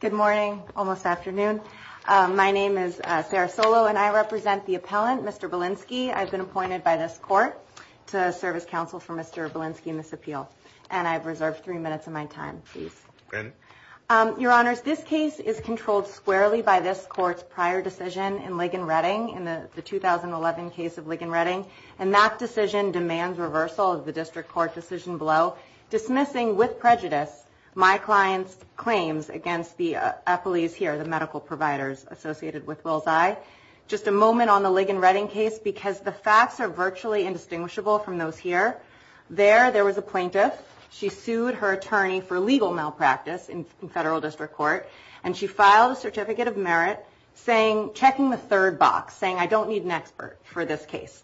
Good morning, almost afternoon. My name is Sarah Solo and I represent the appellant, Mr. Belinski. I've been appointed by this court to serve as counsel for Mr. Belinski in this appeal. And I've reserved three minutes of my time, please. Your Honors, this case is controlled squarely by this court's prior decision in Ligon Redding, in the 2011 case of Ligon Redding. And that decision demands reversal of the district court decision below, dismissing with prejudice my client's claims against the appellees here, the medical providers associated with Wills Eye. Just a moment on the Ligon Redding case, because the facts are virtually indistinguishable from those here. There, there was a plaintiff. She sued her attorney for legal malpractice in federal district court, and she filed a certificate of merit, checking the third box, saying, I don't need an expert for this case.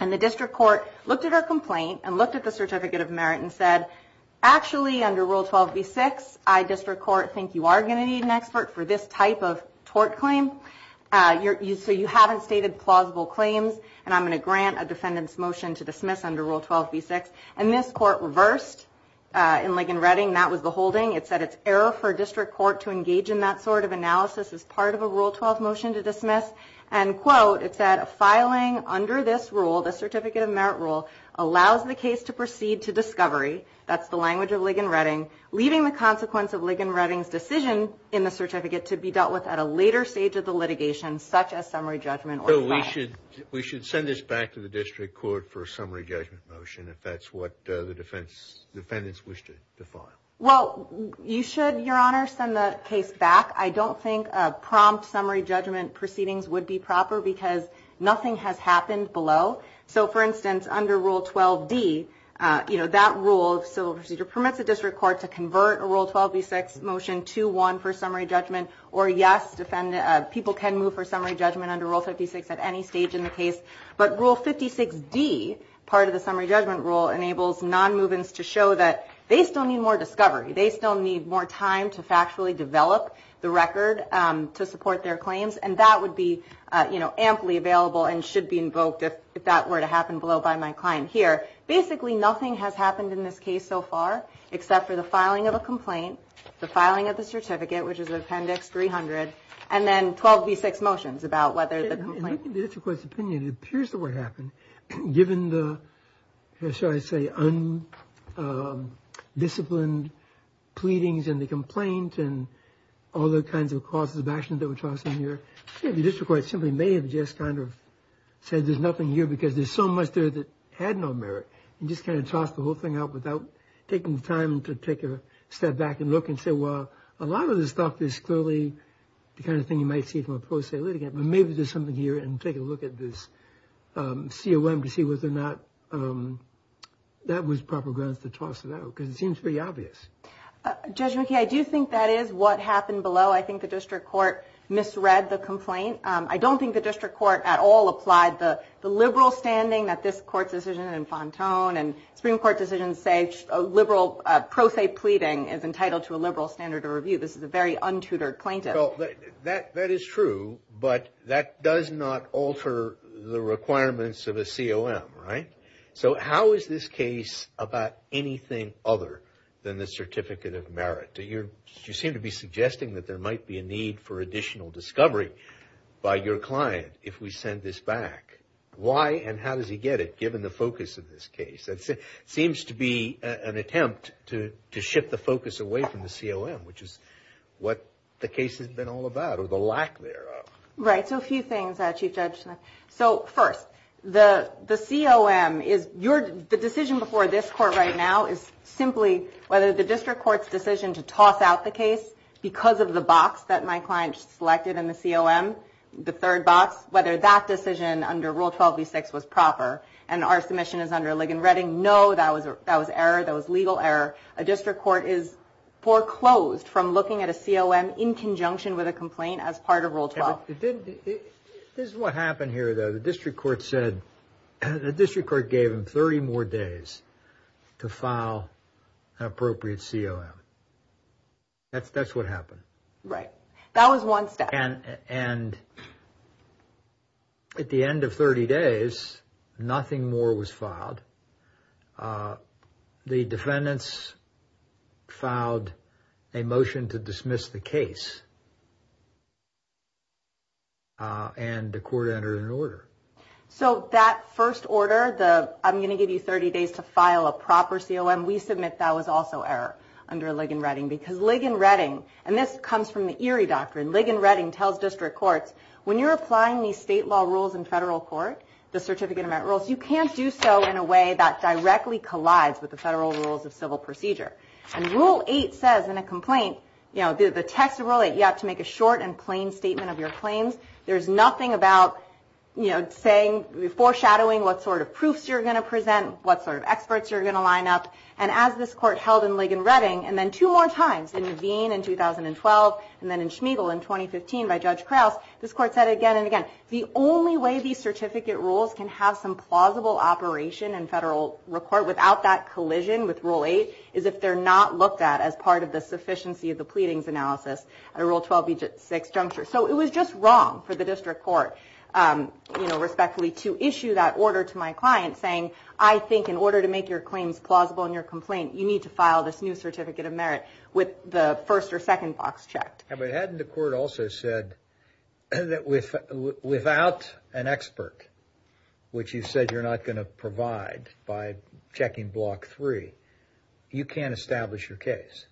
And the district court looked at her complaint and looked at the certificate of merit and said, actually, under Rule 12b-6, I, district court, think you are going to need an expert for this type of tort claim. So you haven't stated plausible claims, and I'm going to grant a defendant's motion to dismiss under Rule 12b-6. And this court reversed in Ligon Redding. That was the holding. It said it's error for a district court to engage in that sort of analysis as part of a Rule 12 motion to dismiss. And, quote, it said, filing under this rule, the certificate of merit rule, allows the case to proceed to discovery, that's the language of Ligon Redding, leaving the consequence of Ligon Redding's decision in the certificate to be dealt with at a later stage of the litigation, such as summary judgment or filing. We should send this back to the district court for a summary judgment motion, if that's what the defendants wish to file. Well, you should, Your Honor, send the case back. I don't think prompt summary judgment proceedings would be proper, because nothing has happened below. So, for instance, under Rule 12d, that rule of civil procedure permits a district court to convert a Rule 12b-6 motion to one for summary judgment. Or, yes, people can move for summary judgment under Rule 56 at any stage in the case. But Rule 56d, part of the summary judgment rule, enables nonmovements to show that they still need more discovery. They still need more time to factually develop the record to support their claims. And that would be, you know, amply available and should be invoked if that were to happen below by my client here. Basically, nothing has happened in this case so far, except for the filing of a complaint, the filing of the certificate, which is Appendix 300, and then 12b-6 motions about whether the complaint… In the district court's opinion, it appears that what happened, given the, shall I say, undisciplined pleadings in the complaint and all the kinds of causes of action that were tossed in here, the district court simply may have just kind of said there's nothing here because there's so much there that had no merit, and just kind of tossed the whole thing out without taking the time to take a step back and look and say, well, a lot of this stuff is clearly the kind of thing you might see from a pro se litigant, but maybe there's something here and take a look at this COM to see whether or not that was proper grounds to toss it out because it seems pretty obvious. Judge McKee, I do think that is what happened below. I think the district court misread the complaint. I don't think the district court at all applied the liberal standing that this court's decision in Fontone and Supreme Court decisions say pro se pleading is entitled to a liberal standard of review. This is a very untutored plaintiff. Well, that is true, but that does not alter the requirements of a COM, right? So how is this case about anything other than the certificate of merit? You seem to be suggesting that there might be a need for additional discovery by your client if we send this back. Why and how does he get it, given the focus of this case? It seems to be an attempt to shift the focus away from the COM, which is what the case has been all about or the lack thereof. Right. So a few things, Chief Judge Smith. So first, the COM, the decision before this court right now is simply whether the district court's decision to toss out the case because of the box that my client selected in the COM, the third box, whether that decision under Rule 12b-6 was proper and our submission is under Ligon-Reading. No, that was error. That was legal error. A district court is foreclosed from looking at a COM in conjunction with a complaint as part of Rule 12. This is what happened here, though. The district court gave him 30 more days to file an appropriate COM. That's what happened. Right. That was one step. And at the end of 30 days, nothing more was filed. The defendants filed a motion to dismiss the case and the court entered an order. So that first order, the I'm going to give you 30 days to file a proper COM, we submit that was also error under Ligon-Reading. Because Ligon-Reading, and this comes from the Erie Doctrine, Ligon-Reading tells district courts, when you're applying these state law rules in federal court, the Certificate Amendment Rules, you can't do so in a way that directly collides with the federal rules of civil procedure. And Rule 8 says in a complaint, you know, the text of Rule 8, you have to make a short and plain statement of your claims. There's nothing about, you know, saying, foreshadowing what sort of proofs you're going to present, what sort of experts you're going to line up. And as this court held in Ligon-Reading, and then two more times in Veen in 2012, and then in Schmeigel in 2015 by Judge Krause, this court said again and again, the only way these certificate rules can have some plausible operation in federal court without that collision with Rule 8 is if they're not looked at as part of the sufficiency of the pleadings analysis at a Rule 12b6 juncture. So it was just wrong for the district court, you know, respectfully to issue that order to my client saying, I think in order to make your claims plausible in your complaint, you need to file this new Certificate of Merit with the first or second box checked. But hadn't the court also said that without an expert, which you said you're not going to provide by checking Block 3, you can't establish your case?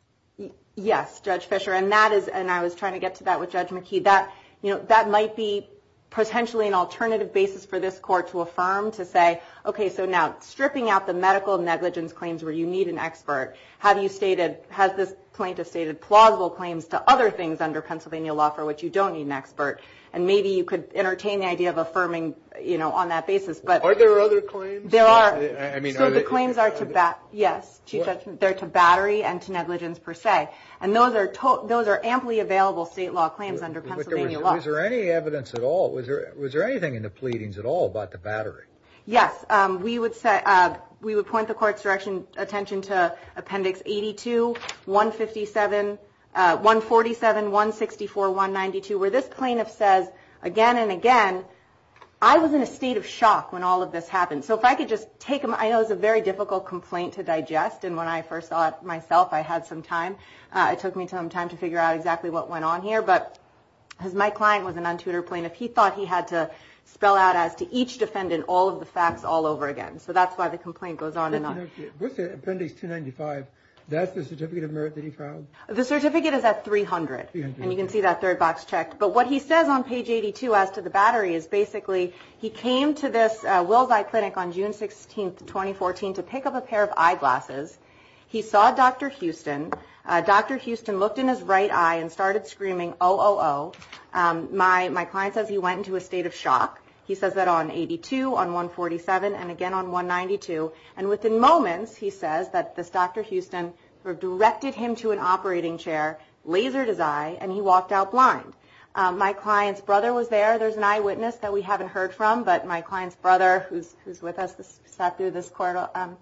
Yes, Judge Fischer. And that is, and I was trying to get to that with Judge McKee, that, you know, that might be potentially an alternative basis for this court to affirm to say, okay, so now stripping out the medical negligence claims where you need an expert, have you stated, has this plaintiff stated plausible claims to other things under Pennsylvania law for which you don't need an expert? And maybe you could entertain the idea of affirming, you know, on that basis. Are there other claims? There are. So the claims are to battery and to negligence per se. And those are those are amply available state law claims under Pennsylvania law. Is there any evidence at all? Was there was there anything in the pleadings at all about the battery? Yes. We would say we would point the court's direction attention to Appendix 82, 157, 147, 164, 192, where this plaintiff says again and again, I was in a state of shock when all of this happened. So if I could just take them, I know it's a very difficult complaint to digest. And when I first saw it myself, I had some time. It took me some time to figure out exactly what went on here. But as my client was an untutored plaintiff, he thought he had to spell out as to each defendant, all of the facts all over again. So that's why the complaint goes on and on. Appendix 295, that's the certificate of merit that he filed. The certificate is at 300. And you can see that third box checked. But what he says on page 82 as to the battery is basically he came to this Will's Eye Clinic on June 16th, 2014, to pick up a pair of eyeglasses. He saw Dr. Houston. Dr. Houston looked in his right eye and started screaming, oh, oh, oh. My client says he went into a state of shock. He says that on 82, on 147, and again on 192. And within moments, he says that this Dr. Houston directed him to an operating chair, lasered his eye, and he walked out blind. My client's brother was there. There's an eyewitness that we haven't heard from. But my client's brother, who's with us, sat through this courtroom,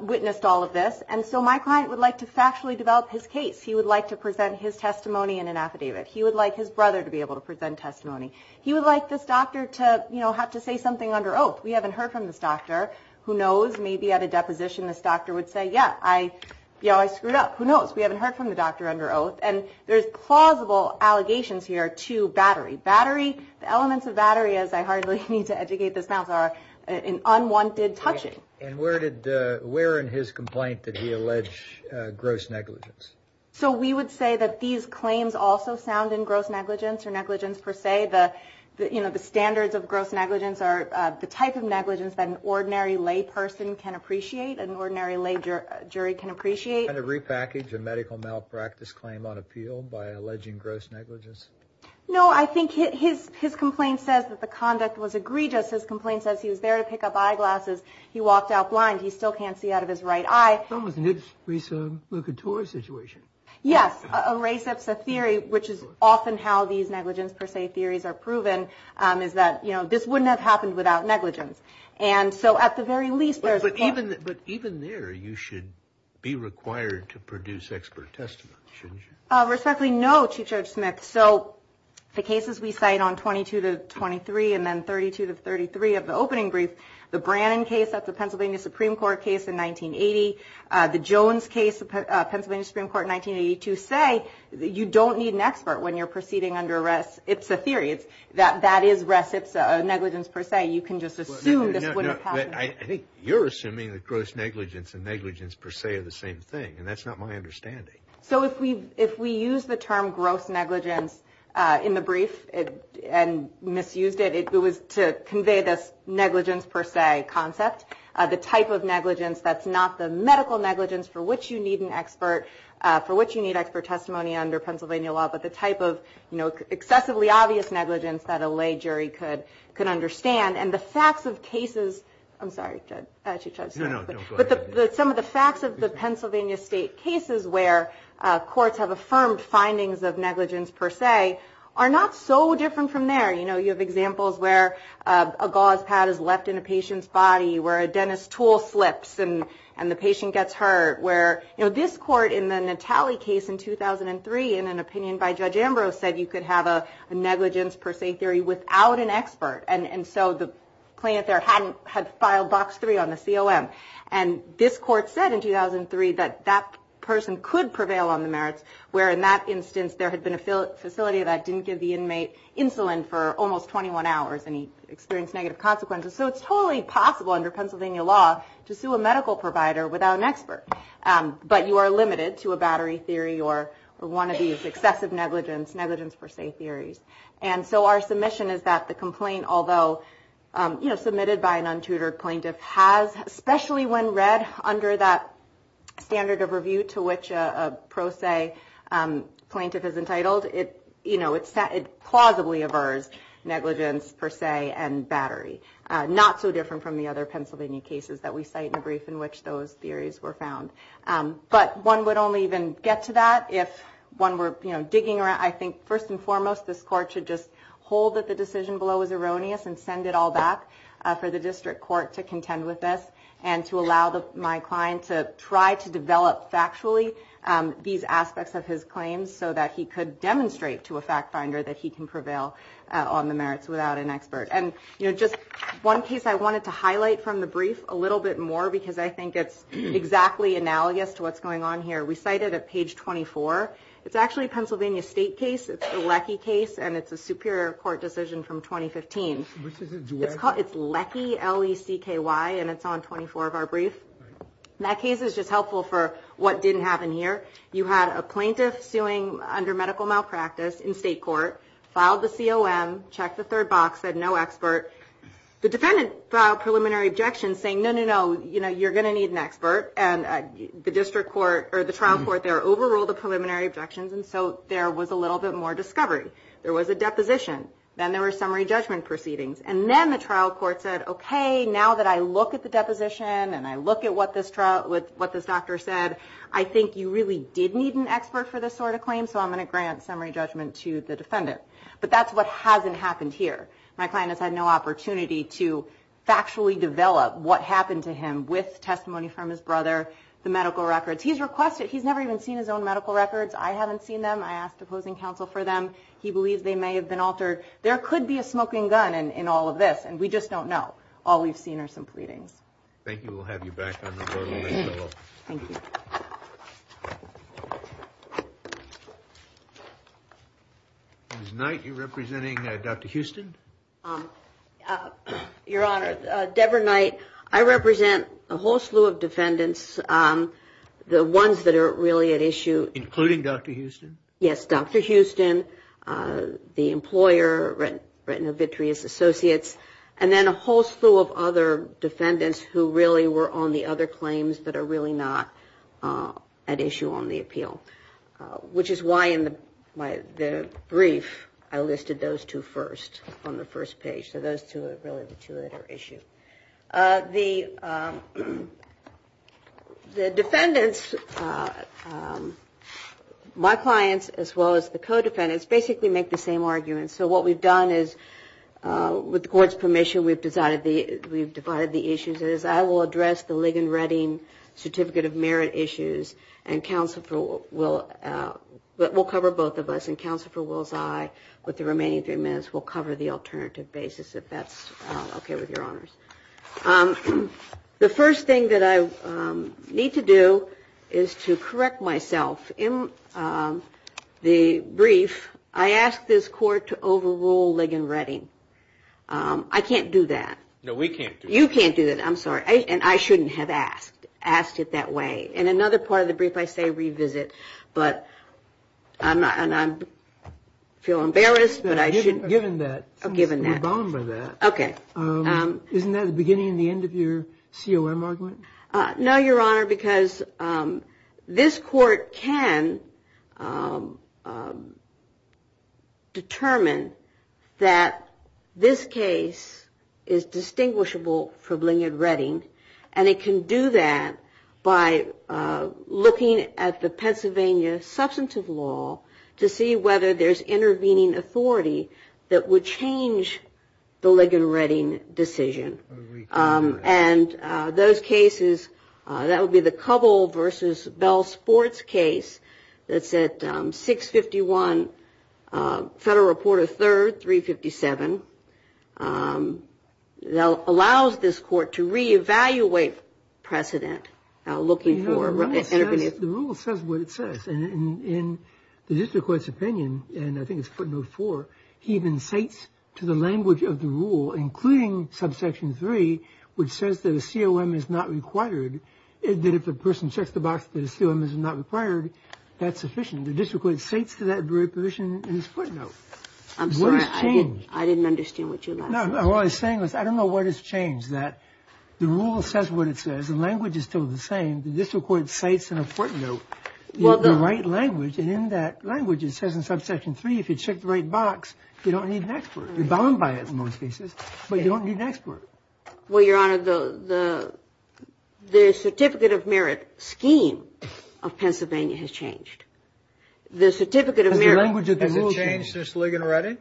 witnessed all of this. And so my client would like to factually develop his case. He would like to present his testimony in an affidavit. He would like his brother to be able to present testimony. He would like this doctor to have to say something under oath. We haven't heard from this doctor. Who knows? Maybe at a deposition, this doctor would say, yeah, I screwed up. Who knows? We haven't heard from the doctor under oath. And there's plausible allegations here to battery. The elements of battery, as I hardly need to educate this panel, are an unwanted touching. And where in his complaint did he allege gross negligence? So we would say that these claims also sound in gross negligence or negligence per se. The standards of gross negligence are the type of negligence that an ordinary lay person can appreciate, an ordinary lay jury can appreciate. And a repackage, a medical malpractice claim on appeal by alleging gross negligence? No, I think his complaint says that the conduct was egregious. His complaint says he was there to pick up eyeglasses. He walked out blind. He still can't see out of his right eye. It's almost an Ibs, Risa, Luca, Torre situation. Yes, a race that's a theory, which is often how these negligence per se theories are proven, is that, you know, this wouldn't have happened without negligence. And so at the very least, there's. But even there, you should be required to produce expert testimony, shouldn't you? Respectfully, no. Chief Judge Smith, so the cases we cite on 22 to 23 and then 32 to 33 of the opening brief, the Brannon case at the Pennsylvania Supreme Court case in 1980, the Jones case, Pennsylvania Supreme Court in 1982, say that you don't need an expert when you're proceeding under rest. It's a theory. It's that that is reciprocity negligence per se. You can just assume that I think you're assuming that gross negligence and negligence per se are the same thing. And that's not my understanding. So if we if we use the term gross negligence in the brief and misused it, it was to convey this negligence per se concept, the type of negligence that's not the medical negligence for which you need an expert, for which you need expert testimony under Pennsylvania law. But the type of, you know, excessively obvious negligence that a lay jury could could understand. And the facts of cases. I'm sorry. But some of the facts of the Pennsylvania state cases where courts have affirmed findings of negligence per se are not so different from there. You know, you have examples where a gauze pad is left in a patient's body, where a dentist tool slips and and the patient gets hurt, where, you know, this court in the Natali case in 2003, in an opinion by Judge Ambrose, said you could have a negligence per se theory without an expert. And so the plaintiff there hadn't had filed box three on the COM. And this court said in 2003 that that person could prevail on the merits, where in that instance, there had been a facility that didn't give the inmate insulin for almost 21 hours and he experienced negative consequences. So it's totally possible under Pennsylvania law to sue a medical provider without an expert. But you are limited to a battery theory or one of these excessive negligence, negligence per se theories. And so our submission is that the complaint, although, you know, submitted by an untutored plaintiff, has especially when read under that standard of review to which a pro se plaintiff is entitled. It, you know, it's that it plausibly averts negligence per se and battery. Not so different from the other Pennsylvania cases that we cite in the brief in which those theories were found. But one would only even get to that if one were digging around. I think first and foremost, this court should just hold that the decision below is erroneous and send it all back for the district court to contend with this and to allow my client to try to develop factually these aspects of his claims so that he could demonstrate to a fact finder that he can prevail on the merits without an expert. And, you know, just one case I wanted to highlight from the brief a little bit more, because I think it's exactly analogous to what's going on here. We cite it at page 24. It's actually a Pennsylvania state case. It's a LECI case, and it's a superior court decision from 2015. It's LECI, L-E-C-K-Y, and it's on 24 of our brief. That case is just helpful for what didn't happen here. You had a plaintiff suing under medical malpractice in state court, filed the COM, checked the third box, said no expert. The defendant filed preliminary objections saying, no, no, no, you know, you're going to need an expert. And the district court or the trial court there overruled the preliminary objections, and so there was a little bit more discovery. There was a deposition. Then there were summary judgment proceedings. And then the trial court said, okay, now that I look at the deposition and I look at what this doctor said, I think you really did need an expert for this sort of claim, so I'm going to grant summary judgment to the defendant. But that's what hasn't happened here. My client has had no opportunity to factually develop what happened to him with testimony from his brother, the medical records. He's requested, he's never even seen his own medical records. I haven't seen them. I asked opposing counsel for them. He believes they may have been altered. There could be a smoking gun in all of this, and we just don't know. All we've seen are some pleadings. Thank you. We'll have you back on the board a little bit more. Thank you. Ms. Knight, you're representing Dr. Houston? Your Honor, Debra Knight. I represent a whole slew of defendants, the ones that are really at issue. Including Dr. Houston? Yes, Dr. Houston, the employer, Retinovitreous Associates, and then a whole slew of other defendants who really were on the other claims that are really not at issue on the appeal, which is why in the brief I listed those two first on the first page. So those two are really the two that are at issue. The defendants, my clients as well as the co-defendants, basically make the same arguments. So what we've done is, with the court's permission, we've divided the issues. I will address the Ligon Redding Certificate of Merit issues, and we'll cover both of us. And Counsel for Will's Eye, with the remaining three minutes, will cover the alternative basis, if that's okay with your honors. The first thing that I need to do is to correct myself. In the brief, I asked this court to overrule Ligon Redding. I can't do that. No, we can't do that. You can't do that. I'm sorry. And I shouldn't have asked it that way. In another part of the brief, I say revisit. But I feel embarrassed, but I shouldn't. Given that. Given that. We're bound by that. Okay. Isn't that the beginning and the end of your COM argument? No, Your Honor, because this court can determine that this case is distinguishable from Ligon Redding. And it can do that by looking at the Pennsylvania substantive law to see whether there's intervening authority that would change the Ligon Redding decision. And those cases, that would be the Covell versus Bell-Sports case that's at 651 Federal Reporter 3rd, 357. That allows this court to reevaluate precedent looking for intervening. The rule says what it says. And in the district court's opinion, and I think it's footnote 4, he even cites to the language of the rule, including subsection 3, which says that a COM is not required, that if a person checks the box that a COM is not required, that's sufficient. The district court cites to that very provision in his footnote. I'm sorry. What has changed? I didn't understand what you're asking. No, no. What I was saying was I don't know what has changed, that the rule says what it says. The language is still the same. The district court cites in a footnote the right language. And in that language, it says in subsection 3, if you check the right box, you don't need an expert. You're bound by it in most cases, but you don't need an expert. Well, Your Honor, the certificate of merit scheme of Pennsylvania has changed. The certificate of merit. Has it changed since Ligon Redding?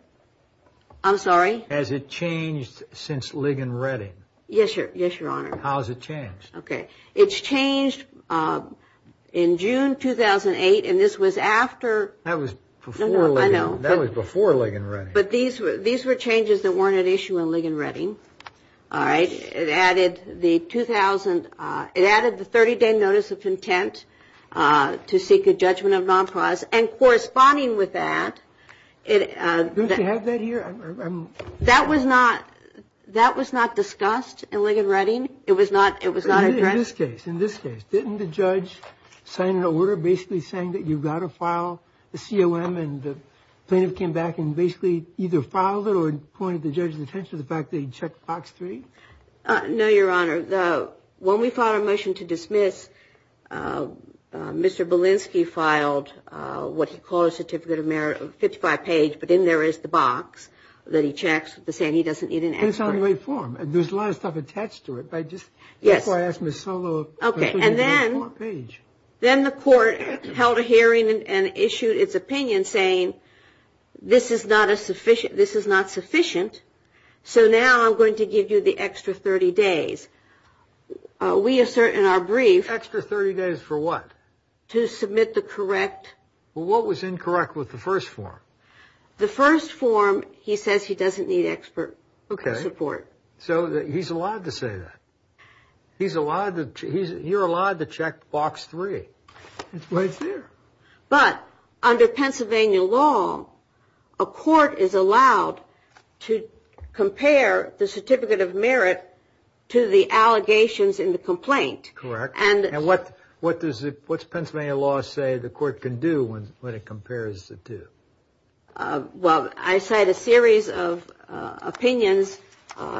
I'm sorry? Has it changed since Ligon Redding? Yes, Your Honor. How has it changed? Okay. It's changed in June 2008, and this was after. That was before Ligon Redding. I know. That was before Ligon Redding. But these were changes that weren't at issue in Ligon Redding. All right. It added the 2000, it added the 30-day notice of intent to seek a judgment of nonplause. And corresponding with that. Don't you have that here? That was not discussed in Ligon Redding. It was not addressed? In this case. In this case. Didn't the judge sign an order basically saying that you've got to file a COM, and the plaintiff came back and basically either filed it or pointed the judge's attention to the fact that he checked box 3? No, Your Honor. When we filed a motion to dismiss, Mr. Belinsky filed what he called a certificate of merit, a 55-page, but in there is the box that he checks to say he doesn't need an expert. And it's on the right form. There's a lot of stuff attached to it. Yes. That's why I asked Ms. Solo. Okay. And then the court held a hearing and issued its opinion saying this is not sufficient, so now I'm going to give you the extra 30 days. We assert in our brief. Extra 30 days for what? To submit the correct. Well, what was incorrect with the first form? The first form he says he doesn't need expert support. So he's allowed to say that. You're allowed to check box 3. It's right there. But under Pennsylvania law, a court is allowed to compare the certificate of merit to the allegations in the complaint. Correct. And what does Pennsylvania law say the court can do when it compares the two? Well, I cite a series of opinions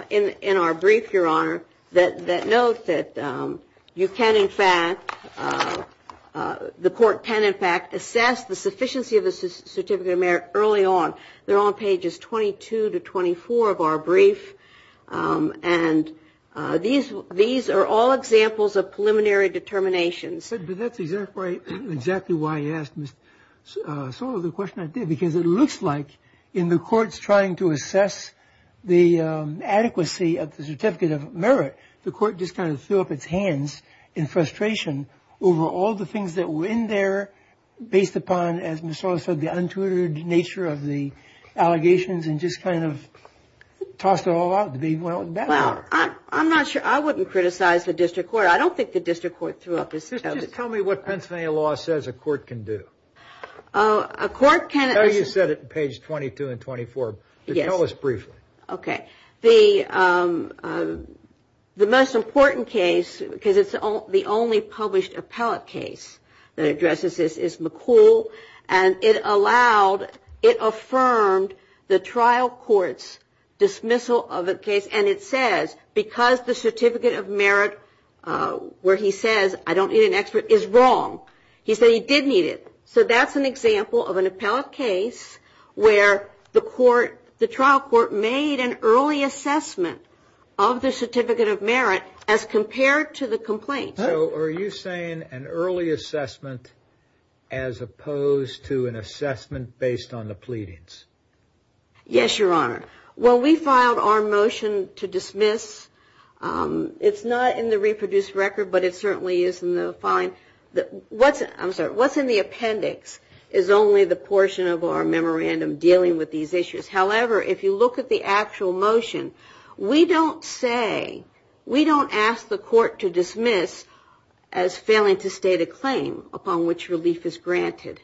in our brief, Your Honor, that note that you can, in fact, the court can, in fact, assess the sufficiency of the certificate of merit early on. They're on pages 22 to 24 of our brief. And these are all examples of preliminary determinations. But that's exactly why I asked Ms. Soro the question I did, because it looks like in the courts trying to assess the adequacy of the certificate of merit, the court just kind of threw up its hands in frustration over all the things that were in there based upon, as Ms. Soro said, the untutored nature of the allegations and just kind of tossed it all out. Well, I'm not sure. I wouldn't criticize the district court. I'm not sure. I don't think the district court threw up its hands. Just tell me what Pennsylvania law says a court can do. A court can. You said it on page 22 and 24. Yes. Tell us briefly. Okay. The most important case, because it's the only published appellate case that addresses this, is McCool. And it allowed, it affirmed the trial court's dismissal of the case. And it says, because the certificate of merit where he says, I don't need an expert, is wrong. He said he did need it. So that's an example of an appellate case where the trial court made an early assessment of the certificate of merit as compared to the complaint. So are you saying an early assessment as opposed to an assessment based on the pleadings? Yes, Your Honor. Well, we filed our motion to dismiss. It's not in the reproduced record, but it certainly is in the filing. What's in the appendix is only the portion of our memorandum dealing with these issues. However, if you look at the actual motion, we don't say, we don't ask the court to dismiss as failing to state a claim upon which relief is granted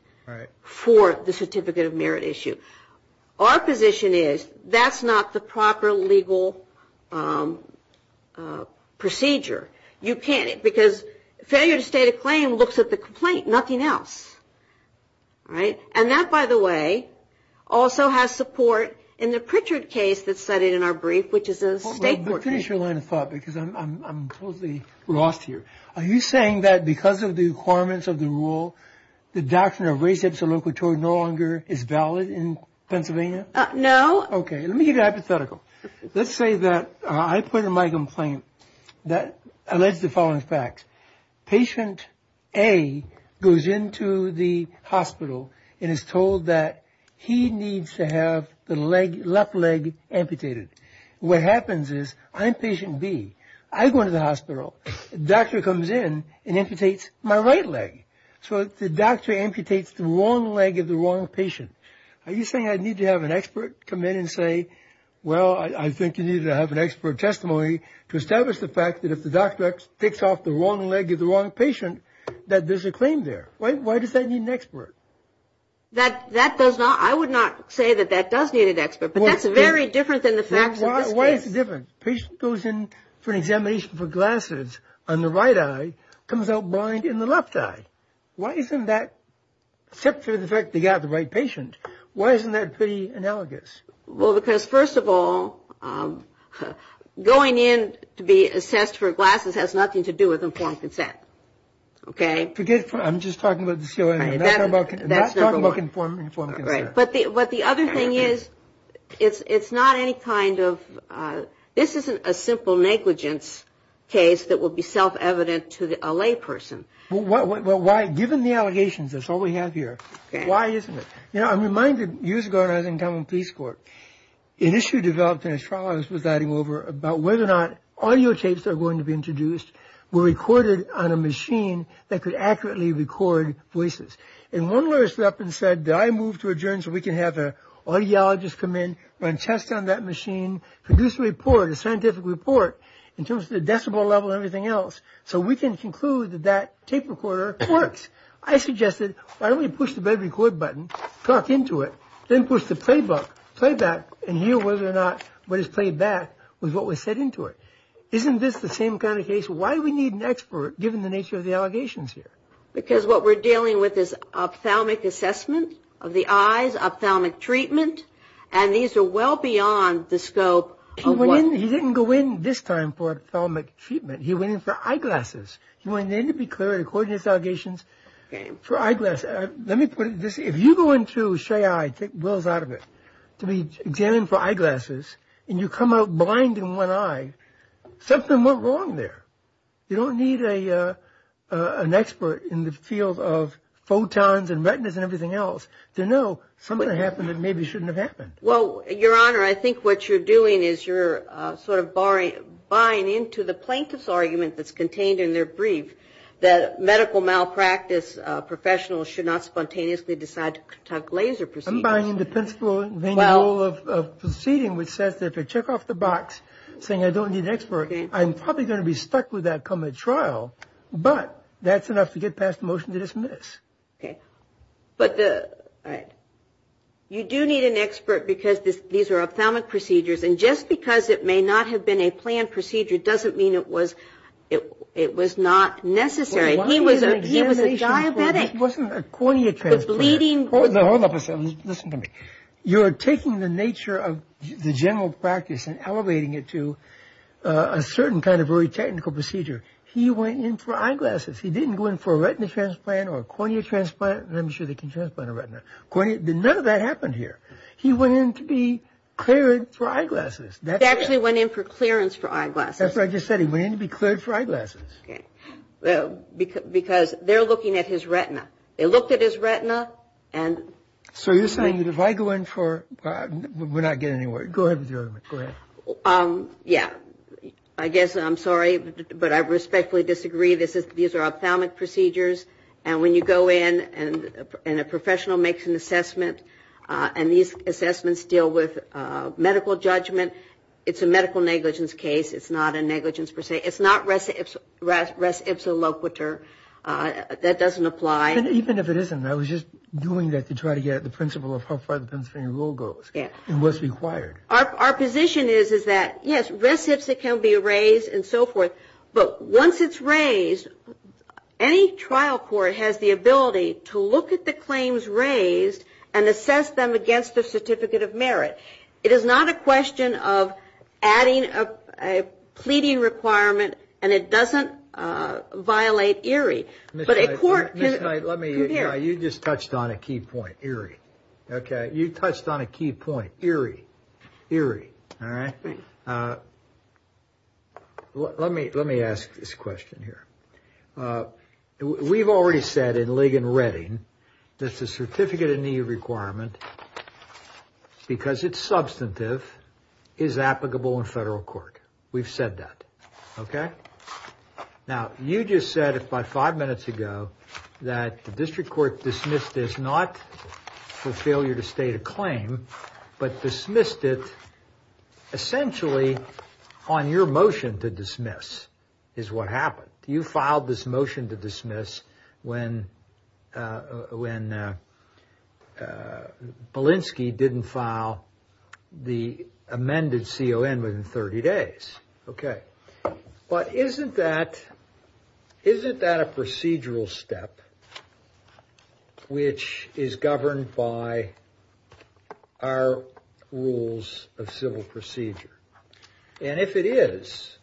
for the certificate of merit issue. Our position is that's not the proper legal procedure. You can't, because failure to state a claim looks at the complaint, nothing else. All right? And that, by the way, also has support in the Pritchard case that's cited in our brief, which is a state court case. Finish your line of thought, because I'm totally lost here. Are you saying that because of the requirements of the rule, the doctrine of res ipsa loquitur no longer is valid in Pennsylvania? No. Okay. Let me give you a hypothetical. Let's say that I put in my complaint that alleged the following facts. Patient A goes into the hospital and is told that he needs to have the left leg amputated. What happens is I'm patient B. I go into the hospital. The doctor comes in and amputates my right leg. So the doctor amputates the wrong leg of the wrong patient. Are you saying I need to have an expert come in and say, well, I think you need to have an expert testimony to establish the fact that if the doctor takes off the wrong leg of the wrong patient, that there's a claim there? Why does that need an expert? That does not, I would not say that that does need an expert, but that's very different than the facts of this case. Why is it different? The patient goes in for an examination for glasses on the right eye, comes out blind in the left eye. Why isn't that, except for the fact they got the right patient, why isn't that pretty analogous? Well, because, first of all, going in to be assessed for glasses has nothing to do with informed consent. Okay? I'm just talking about the COA. I'm not talking about informed consent. Right. But the other thing is it's not any kind of, this isn't a simple negligence case that would be self-evident to a layperson. Well, why, given the allegations, that's all we have here, why isn't it? You know, I'm reminded years ago when I was in common peace court, an issue developed in a trial I was presiding over about whether or not audio tapes that were going to be introduced were recorded on a machine that could accurately record voices. And one lawyer stood up and said, did I move to adjourn so we can have an audiologist come in, run tests on that machine, produce a report, a scientific report, in terms of the decibel level and everything else, so we can conclude that that tape recorder works. I suggested, why don't we push the record button, talk into it, then push the playback, and hear whether or not what is played back was what was said into it. Isn't this the same kind of case? Why do we need an expert, given the nature of the allegations here? Because what we're dealing with is ophthalmic assessment of the eyes, ophthalmic treatment, and these are well beyond the scope. He didn't go in this time for ophthalmic treatment. He went in for eyeglasses. He went in to be clear, according to his allegations, for eyeglasses. Let me put it this way. If you go into Shay Eye, take Will's out of it, to be examined for eyeglasses, and you come out blind in one eye, something went wrong there. You don't need an expert in the field of photons and retinas and everything else to know something happened that maybe shouldn't have happened. Well, Your Honor, I think what you're doing is you're sort of buying into the plaintiff's argument that's contained in their brief, that medical malpractice professionals should not spontaneously decide to conduct laser procedures. I'm buying into the principle and the role of proceeding, which says that if I check off the box, saying I don't need an expert, I'm probably going to be stuck with that coming to trial. But that's enough to get past the motion to dismiss. Okay. But the – all right. You do need an expert because these are ophthalmic procedures, and just because it may not have been a planned procedure doesn't mean it was not necessary. He was a diabetic. He wasn't a corneal transplant. Hold up a second. Listen to me. You're taking the nature of the general practice and elevating it to a certain kind of very technical procedure. He went in for eyeglasses. He didn't go in for a retina transplant or a cornea transplant. I'm sure they can transplant a retina. None of that happened here. He went in to be cleared for eyeglasses. He actually went in for clearance for eyeglasses. That's what I just said. He went in to be cleared for eyeglasses. Okay. Because they're looking at his retina. They looked at his retina and – So you're saying if I go in for – we're not getting anywhere. Go ahead with the argument. Go ahead. Yeah. I guess I'm sorry, but I respectfully disagree. These are ophthalmic procedures, and when you go in and a professional makes an assessment and these assessments deal with medical judgment, it's a medical negligence case. It's not a negligence per se. It's not res ipsa loquitur. That doesn't apply. Even if it isn't, I was just doing that to try to get at the principle of how far the Pennsylvania rule goes and what's required. Our position is that, yes, res ipsa can be raised and so forth, but once it's raised, any trial court has the ability to look at the claims raised and assess them against the certificate of merit. It is not a question of adding a pleading requirement, and it doesn't violate ERIE. Ms. Knight, you just touched on a key point, ERIE. You touched on a key point, ERIE. Let me ask this question here. We've already said in Ligon-Reading that the certificate of need requirement, because it's substantive, is applicable in federal court. We've said that. Now, you just said about five minutes ago that the district court dismissed this not for failure to state a claim, but dismissed it essentially on your motion to dismiss is what happened. You filed this motion to dismiss when Polinsky didn't file the amended CON within 30 days. Okay. But isn't that a procedural step which is governed by our rules of civil procedure? And if it is,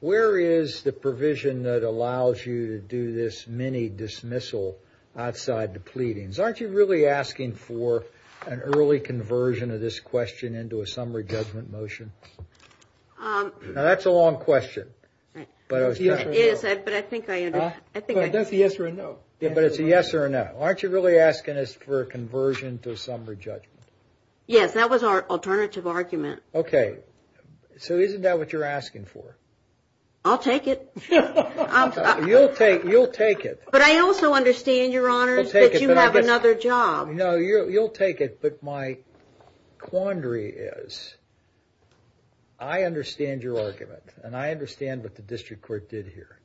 where is the provision that allows you to do this mini-dismissal outside the pleadings? Aren't you really asking for an early conversion of this question into a summary judgment motion? Now, that's a long question. But I think I understand. That's a yes or a no. But it's a yes or a no. Aren't you really asking us for a conversion to a summary judgment? Yes, that was our alternative argument. Okay. So isn't that what you're asking for? I'll take it. You'll take it. But I also understand, Your Honors, that you have another job. No, you'll take it. But my quandary is, I understand your argument. And I understand what the district court did here.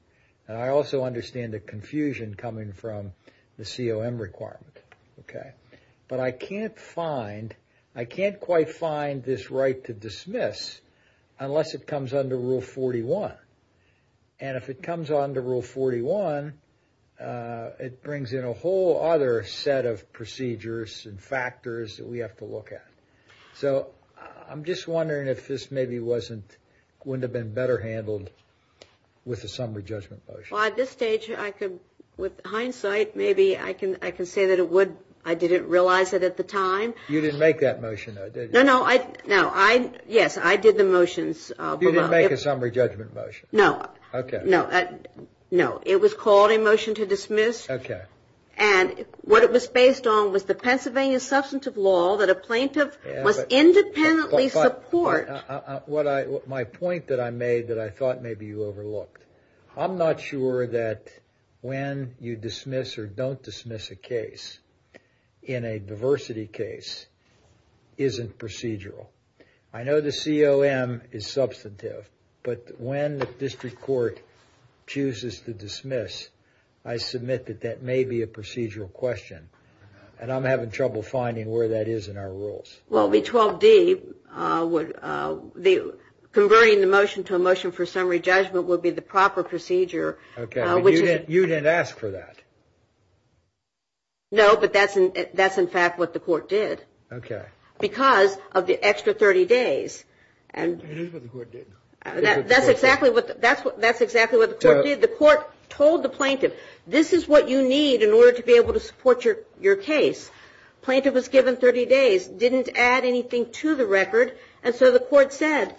And I also understand the confusion coming from the COM requirement. Okay. But I can't quite find this right to dismiss unless it comes under Rule 41. And if it comes under Rule 41, it brings in a whole other set of procedures and factors that we have to look at. So I'm just wondering if this maybe wouldn't have been better handled with a summary judgment motion. Well, at this stage, with hindsight, maybe I can say that it would. I didn't realize it at the time. You didn't make that motion, though, did you? No, no. Yes, I did the motions. You didn't make a summary judgment motion? No. Okay. No, it was called a motion to dismiss. Okay. And what it was based on was the Pennsylvania Substantive Law that a plaintiff must independently support. My point that I made that I thought maybe you overlooked, I'm not sure that when you dismiss or don't dismiss a case in a diversity case isn't procedural. I know the COM is substantive, but when the district court chooses to dismiss, I submit that that may be a procedural question, and I'm having trouble finding where that is in our rules. Well, the 12D, converting the motion to a motion for summary judgment would be the proper procedure. Okay, but you didn't ask for that. No, but that's, in fact, what the court did. Okay. Because of the extra 30 days. It is what the court did. That's exactly what the court did. The court told the plaintiff, this is what you need in order to be able to support your case. Plaintiff was given 30 days, didn't add anything to the record, and so the court said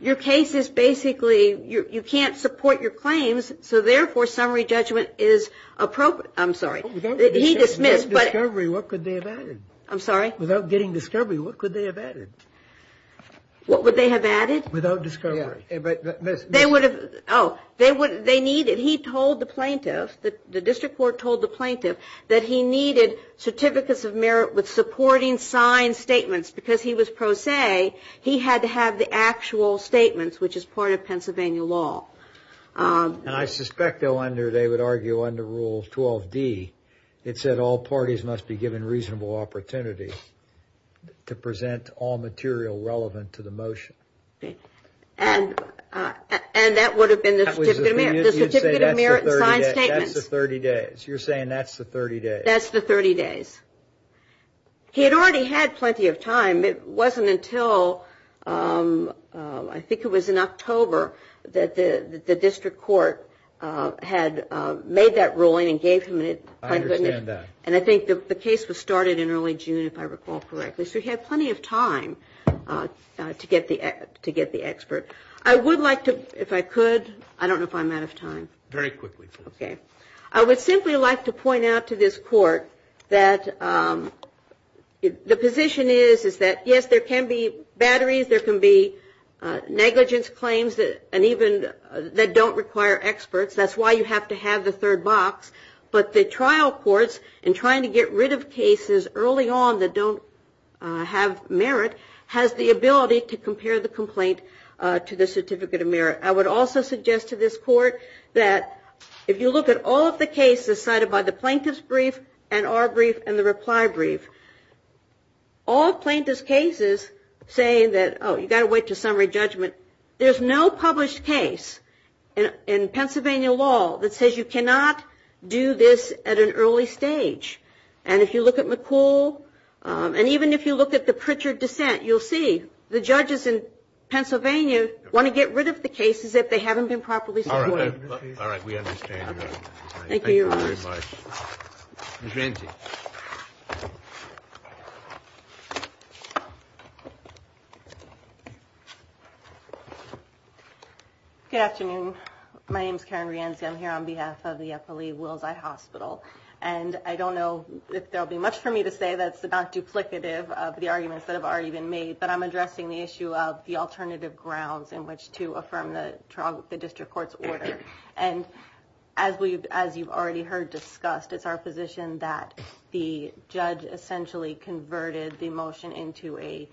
your case is basically, you can't support your claims, so therefore summary judgment is appropriate. I'm sorry. Without discovery, what could they have added? I'm sorry? Without getting discovery, what could they have added? What would they have added? Without discovery. They would have, oh, they needed, he told the plaintiff, the district court told the plaintiff, that he needed certificates of merit with supporting signed statements. Because he was pro se, he had to have the actual statements, which is part of Pennsylvania law. And I suspect they would argue under Rule 12D, it said all parties must be given reasonable opportunity to present all material relevant to the motion. And that would have been the certificate of merit, the certificate of merit and signed statements. That's the 30 days. You're saying that's the 30 days. That's the 30 days. He had already had plenty of time. It wasn't until I think it was in October that the district court had made that ruling and gave him it. I understand that. And I think the case was started in early June, if I recall correctly. So he had plenty of time to get the expert. I would like to, if I could, I don't know if I'm out of time. Very quickly, please. Okay. I would simply like to point out to this court that the position is, is that, yes, there can be batteries, there can be negligence claims and even that don't require experts. That's why you have to have the third box. But the trial courts, in trying to get rid of cases early on that don't have merit, has the ability to compare the complaint to the certificate of merit. I would also suggest to this court that if you look at all of the cases cited by the plaintiff's brief and our brief and the reply brief, all plaintiff's cases say that, oh, you've got to wait to summary judgment. There's no published case in Pennsylvania law that says you cannot do this at an early stage. And if you look at McCool and even if you look at the Pritchard dissent, you'll see the judges in Pennsylvania want to get rid of the cases if they haven't been properly supported. We understand. Thank you very much. Ms. Ramsey. Good afternoon. My name is Karen Ramsey. I'm here on behalf of the FLE Willes Eye Hospital. And I don't know if there'll be much for me to say that's not duplicative of the arguments that have already been made, but I'm addressing the issue of the alternative grounds in which to affirm the district court's order. And as you've already heard discussed, it's our position that the judge essentially converted the motion into a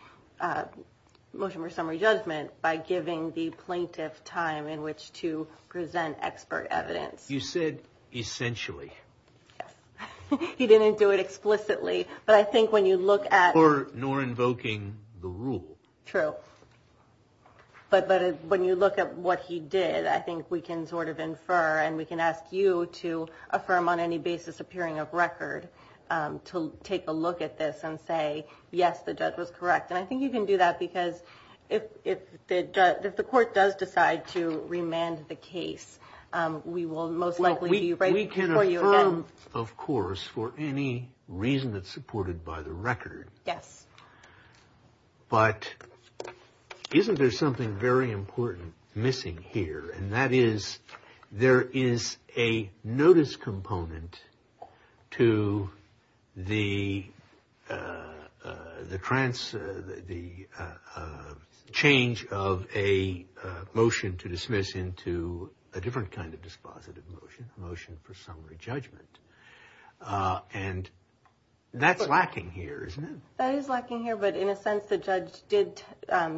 motion for summary judgment by giving the plaintiff time in which to present expert evidence. You said essentially. Yes. He didn't do it explicitly, but I think when you look at... Nor invoking the rule. True. But when you look at what he did, I think we can sort of infer and we can ask you to affirm on any basis appearing of record to take a look at this and say, yes, the judge was correct. And I think you can do that because if the court does decide to remand the case, we will most likely... We can affirm, of course, for any reason that's supported by the record. Yes. But isn't there something very important missing here? And that is there is a notice component to the change of a motion to dismiss into a different kind of dispositive motion, motion for summary judgment. And that's lacking here, isn't it? That is lacking here, but in a sense, the judge did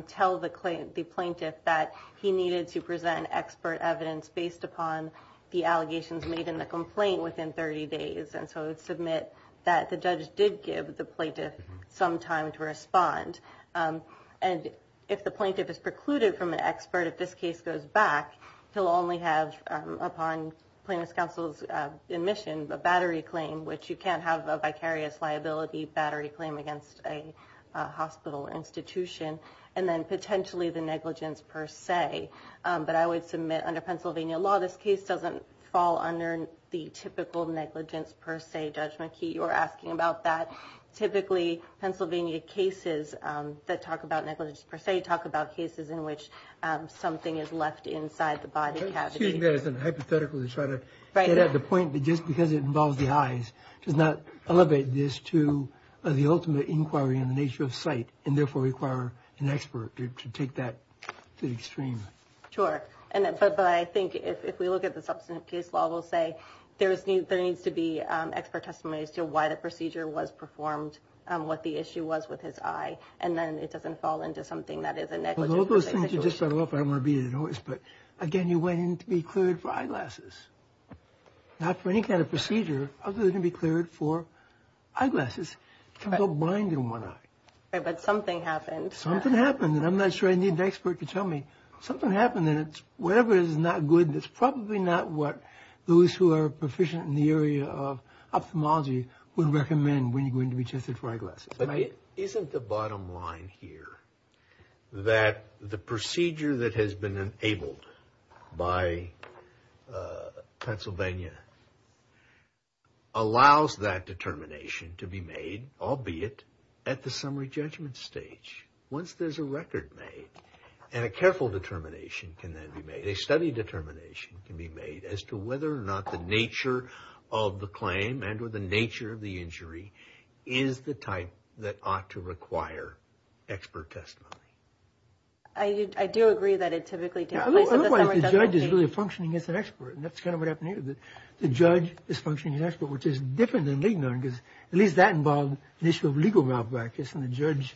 tell the plaintiff that he needed to present expert evidence based upon the allegations made in the complaint within 30 days. And so it would submit that the judge did give the plaintiff some time to respond. And if the plaintiff is precluded from an expert, if this case goes back, he'll only have, upon plaintiff's counsel's admission, a battery claim, which you can't have a vicarious liability battery claim against a hospital institution, and then potentially the negligence per se. But I would submit under Pennsylvania law, this case doesn't fall under the typical negligence per se judgment key. You were asking about that. Typically, Pennsylvania cases that talk about negligence per se talk about cases in which something is left inside the body cavity. I'm using that as a hypothetical to try to get at the point, but just because it involves the eyes does not elevate this to the ultimate inquiry in the nature of sight, and therefore require an expert to take that to the extreme. Sure. But I think if we look at the substantive case law, we'll say there needs to be expert testimony as to why the procedure was performed, what the issue was with his eye, and then it doesn't fall into something that is a negligence per se situation. Well, all those things you just set off, I don't want to be a noise, but again, you went in to be cleared for eyeglasses. Not for any kind of procedure other than to be cleared for eyeglasses. You can't go blind in one eye. Right, but something happened. Something happened, and I'm not sure I need an expert to tell me. Something happened, and whatever it is, it's not good. It's probably not what those who are proficient in the area of ophthalmology would recommend when you go in to be tested for eyeglasses. Isn't the bottom line here that the procedure that has been enabled by Pennsylvania allows that determination to be made, albeit at the summary judgment stage, once there's a record made, and a careful determination can then be made, a study determination can be made as to whether or not the nature of the that ought to require expert testimony. I do agree that it typically takes place at the summary judgment stage. Otherwise, the judge is really functioning as an expert, and that's kind of what happened here. The judge is functioning as an expert, which is different than legal, because at least that involved the issue of legal malpractice, and the judge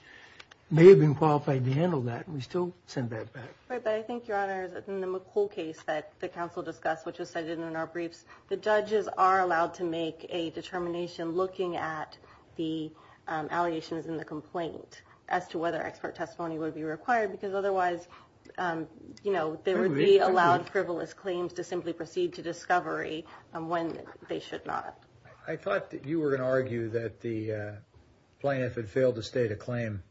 may have been qualified to handle that, and we still send that back. Right, but I think, Your Honor, in the McCool case that the counsel discussed, which was cited in our briefs, the judges are allowed to make a determination looking at the allegations in the complaint as to whether expert testimony would be required, because otherwise, you know, they would be allowed frivolous claims to simply proceed to discovery when they should not. I thought that you were going to argue that the plaintiff had failed to state a claim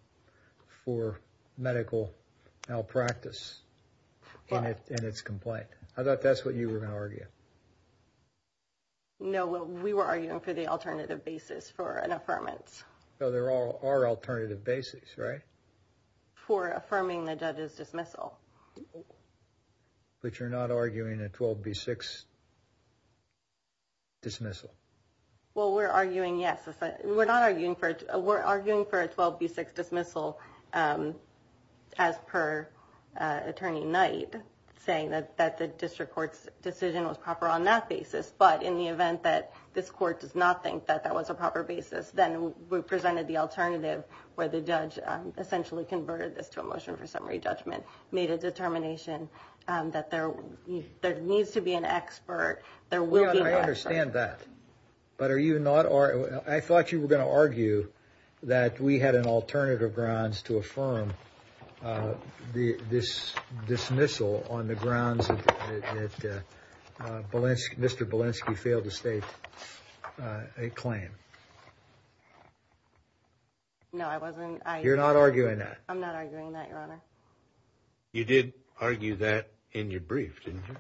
for medical malpractice in its complaint. I thought that's what you were going to argue. No, we were arguing for the alternative basis for an affirmance. So there are alternative basis, right? For affirming the judge's dismissal. But you're not arguing a 12B6 dismissal? Well, we're arguing, yes. We're arguing for a 12B6 dismissal as per Attorney Knight, saying that the district court's decision was proper on that basis. But in the event that this court does not think that that was a proper basis, then we presented the alternative, where the judge essentially converted this to a motion for summary judgment, made a determination that there needs to be an expert. There will be an expert. Your Honor, I understand that. But I thought you were going to argue that we had an alternative grounds to affirm this dismissal on the grounds that Mr. Bielanski failed to state a claim. No, I wasn't. You're not arguing that? I'm not arguing that, Your Honor. You did argue that in your brief, didn't you?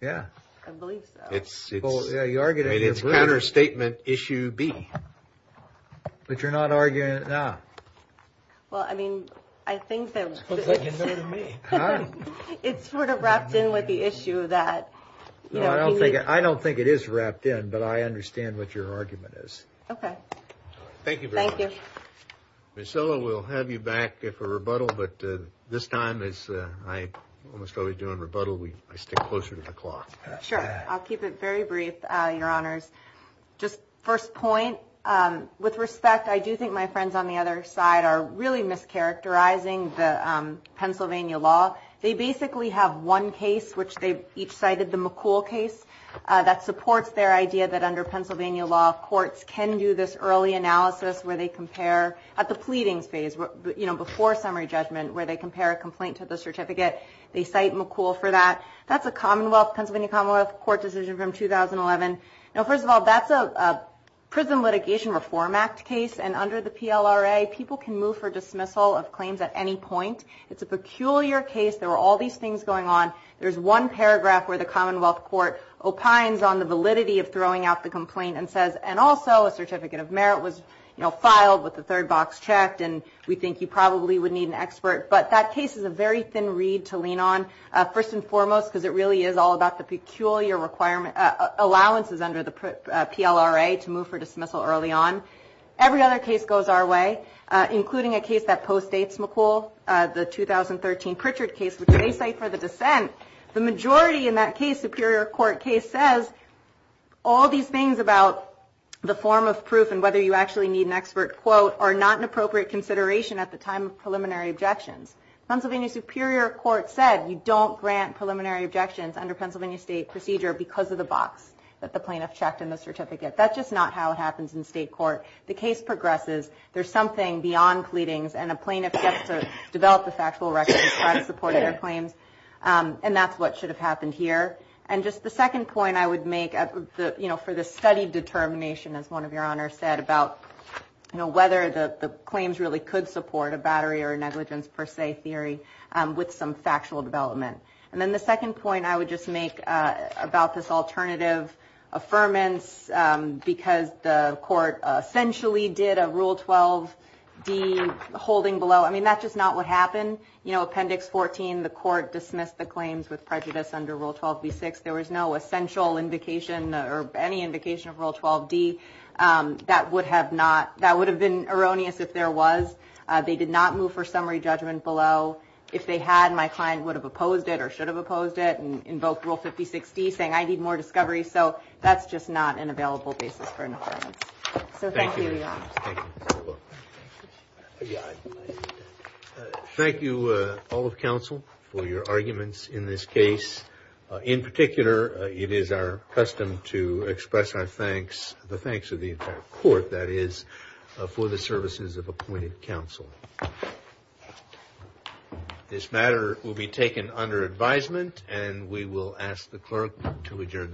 Yeah. I believe so. It's counterstatement issue B. But you're not arguing it now? Well, I mean, I think that it's sort of wrapped in with the issue that, you know, I don't think it is wrapped in, but I understand what your argument is. Okay. Thank you very much. Thank you. Ms. Zillow, we'll have you back for rebuttal, but this time, as I almost always do in rebuttal, I stick closer to the clock. Sure. I'll keep it very brief, Your Honors. Just first point, with respect, I do think my friends on the other side are really mischaracterizing the Pennsylvania law. They basically have one case, which they each cited, the McCool case, that supports their idea that under Pennsylvania law, courts can do this early analysis where they compare at the pleadings phase, you know, before summary judgment, where they compare a complaint to the certificate. They cite McCool for that. That's a Pennsylvania Commonwealth Court decision from 2011. Now, first of all, that's a Prison Litigation Reform Act case, and under the PLRA, people can move for dismissal of claims at any point. It's a peculiar case. There were all these things going on. There's one paragraph where the Commonwealth Court opines on the validity of throwing out the complaint and says, and also a certificate of merit was, you know, filed with the third box checked, and we think you probably would need an expert. But that case is a very thin reed to lean on, first and foremost, because it really is all about the peculiar allowances under the PLRA to move for dismissal early on. Every other case goes our way, including a case that postdates McCool, the 2013 Pritchard case, which they cite for the dissent. The majority in that case, Superior Court case, says all these things about the form of proof and whether you actually need an expert quote are not an appropriate consideration at the time of preliminary objections. Pennsylvania Superior Court said you don't grant preliminary objections under Pennsylvania State procedure because of the box that the plaintiff checked in the certificate. That's just not how it happens in state court. The case progresses. There's something beyond pleadings, and a plaintiff gets to develop the factual record to try to support their claims, and that's what should have happened here. And just the second point I would make, you know, for the study determination, as one of your honors said, about whether the claims really could support a battery or negligence per se theory with some factual development. And then the second point I would just make about this alternative affirmance, because the court essentially did a Rule 12d holding below. I mean, that's just not what happened. You know, Appendix 14, the court dismissed the claims with prejudice under Rule 12b-6. There was no essential indication or any indication of Rule 12d that would have been erroneous if there was. They did not move for summary judgment below. If they had, my client would have opposed it or should have opposed it and invoked Rule 5060 saying, I need more discovery. So that's just not an available basis for an affirmance. So thank you, Your Honors. Thank you. Thank you, all of counsel, for your arguments in this case. In particular, it is our custom to express our thanks, the thanks of the entire court, that is, for the services of appointed counsel. This matter will be taken under advisement, and we will ask the clerk to adjourn the hearing.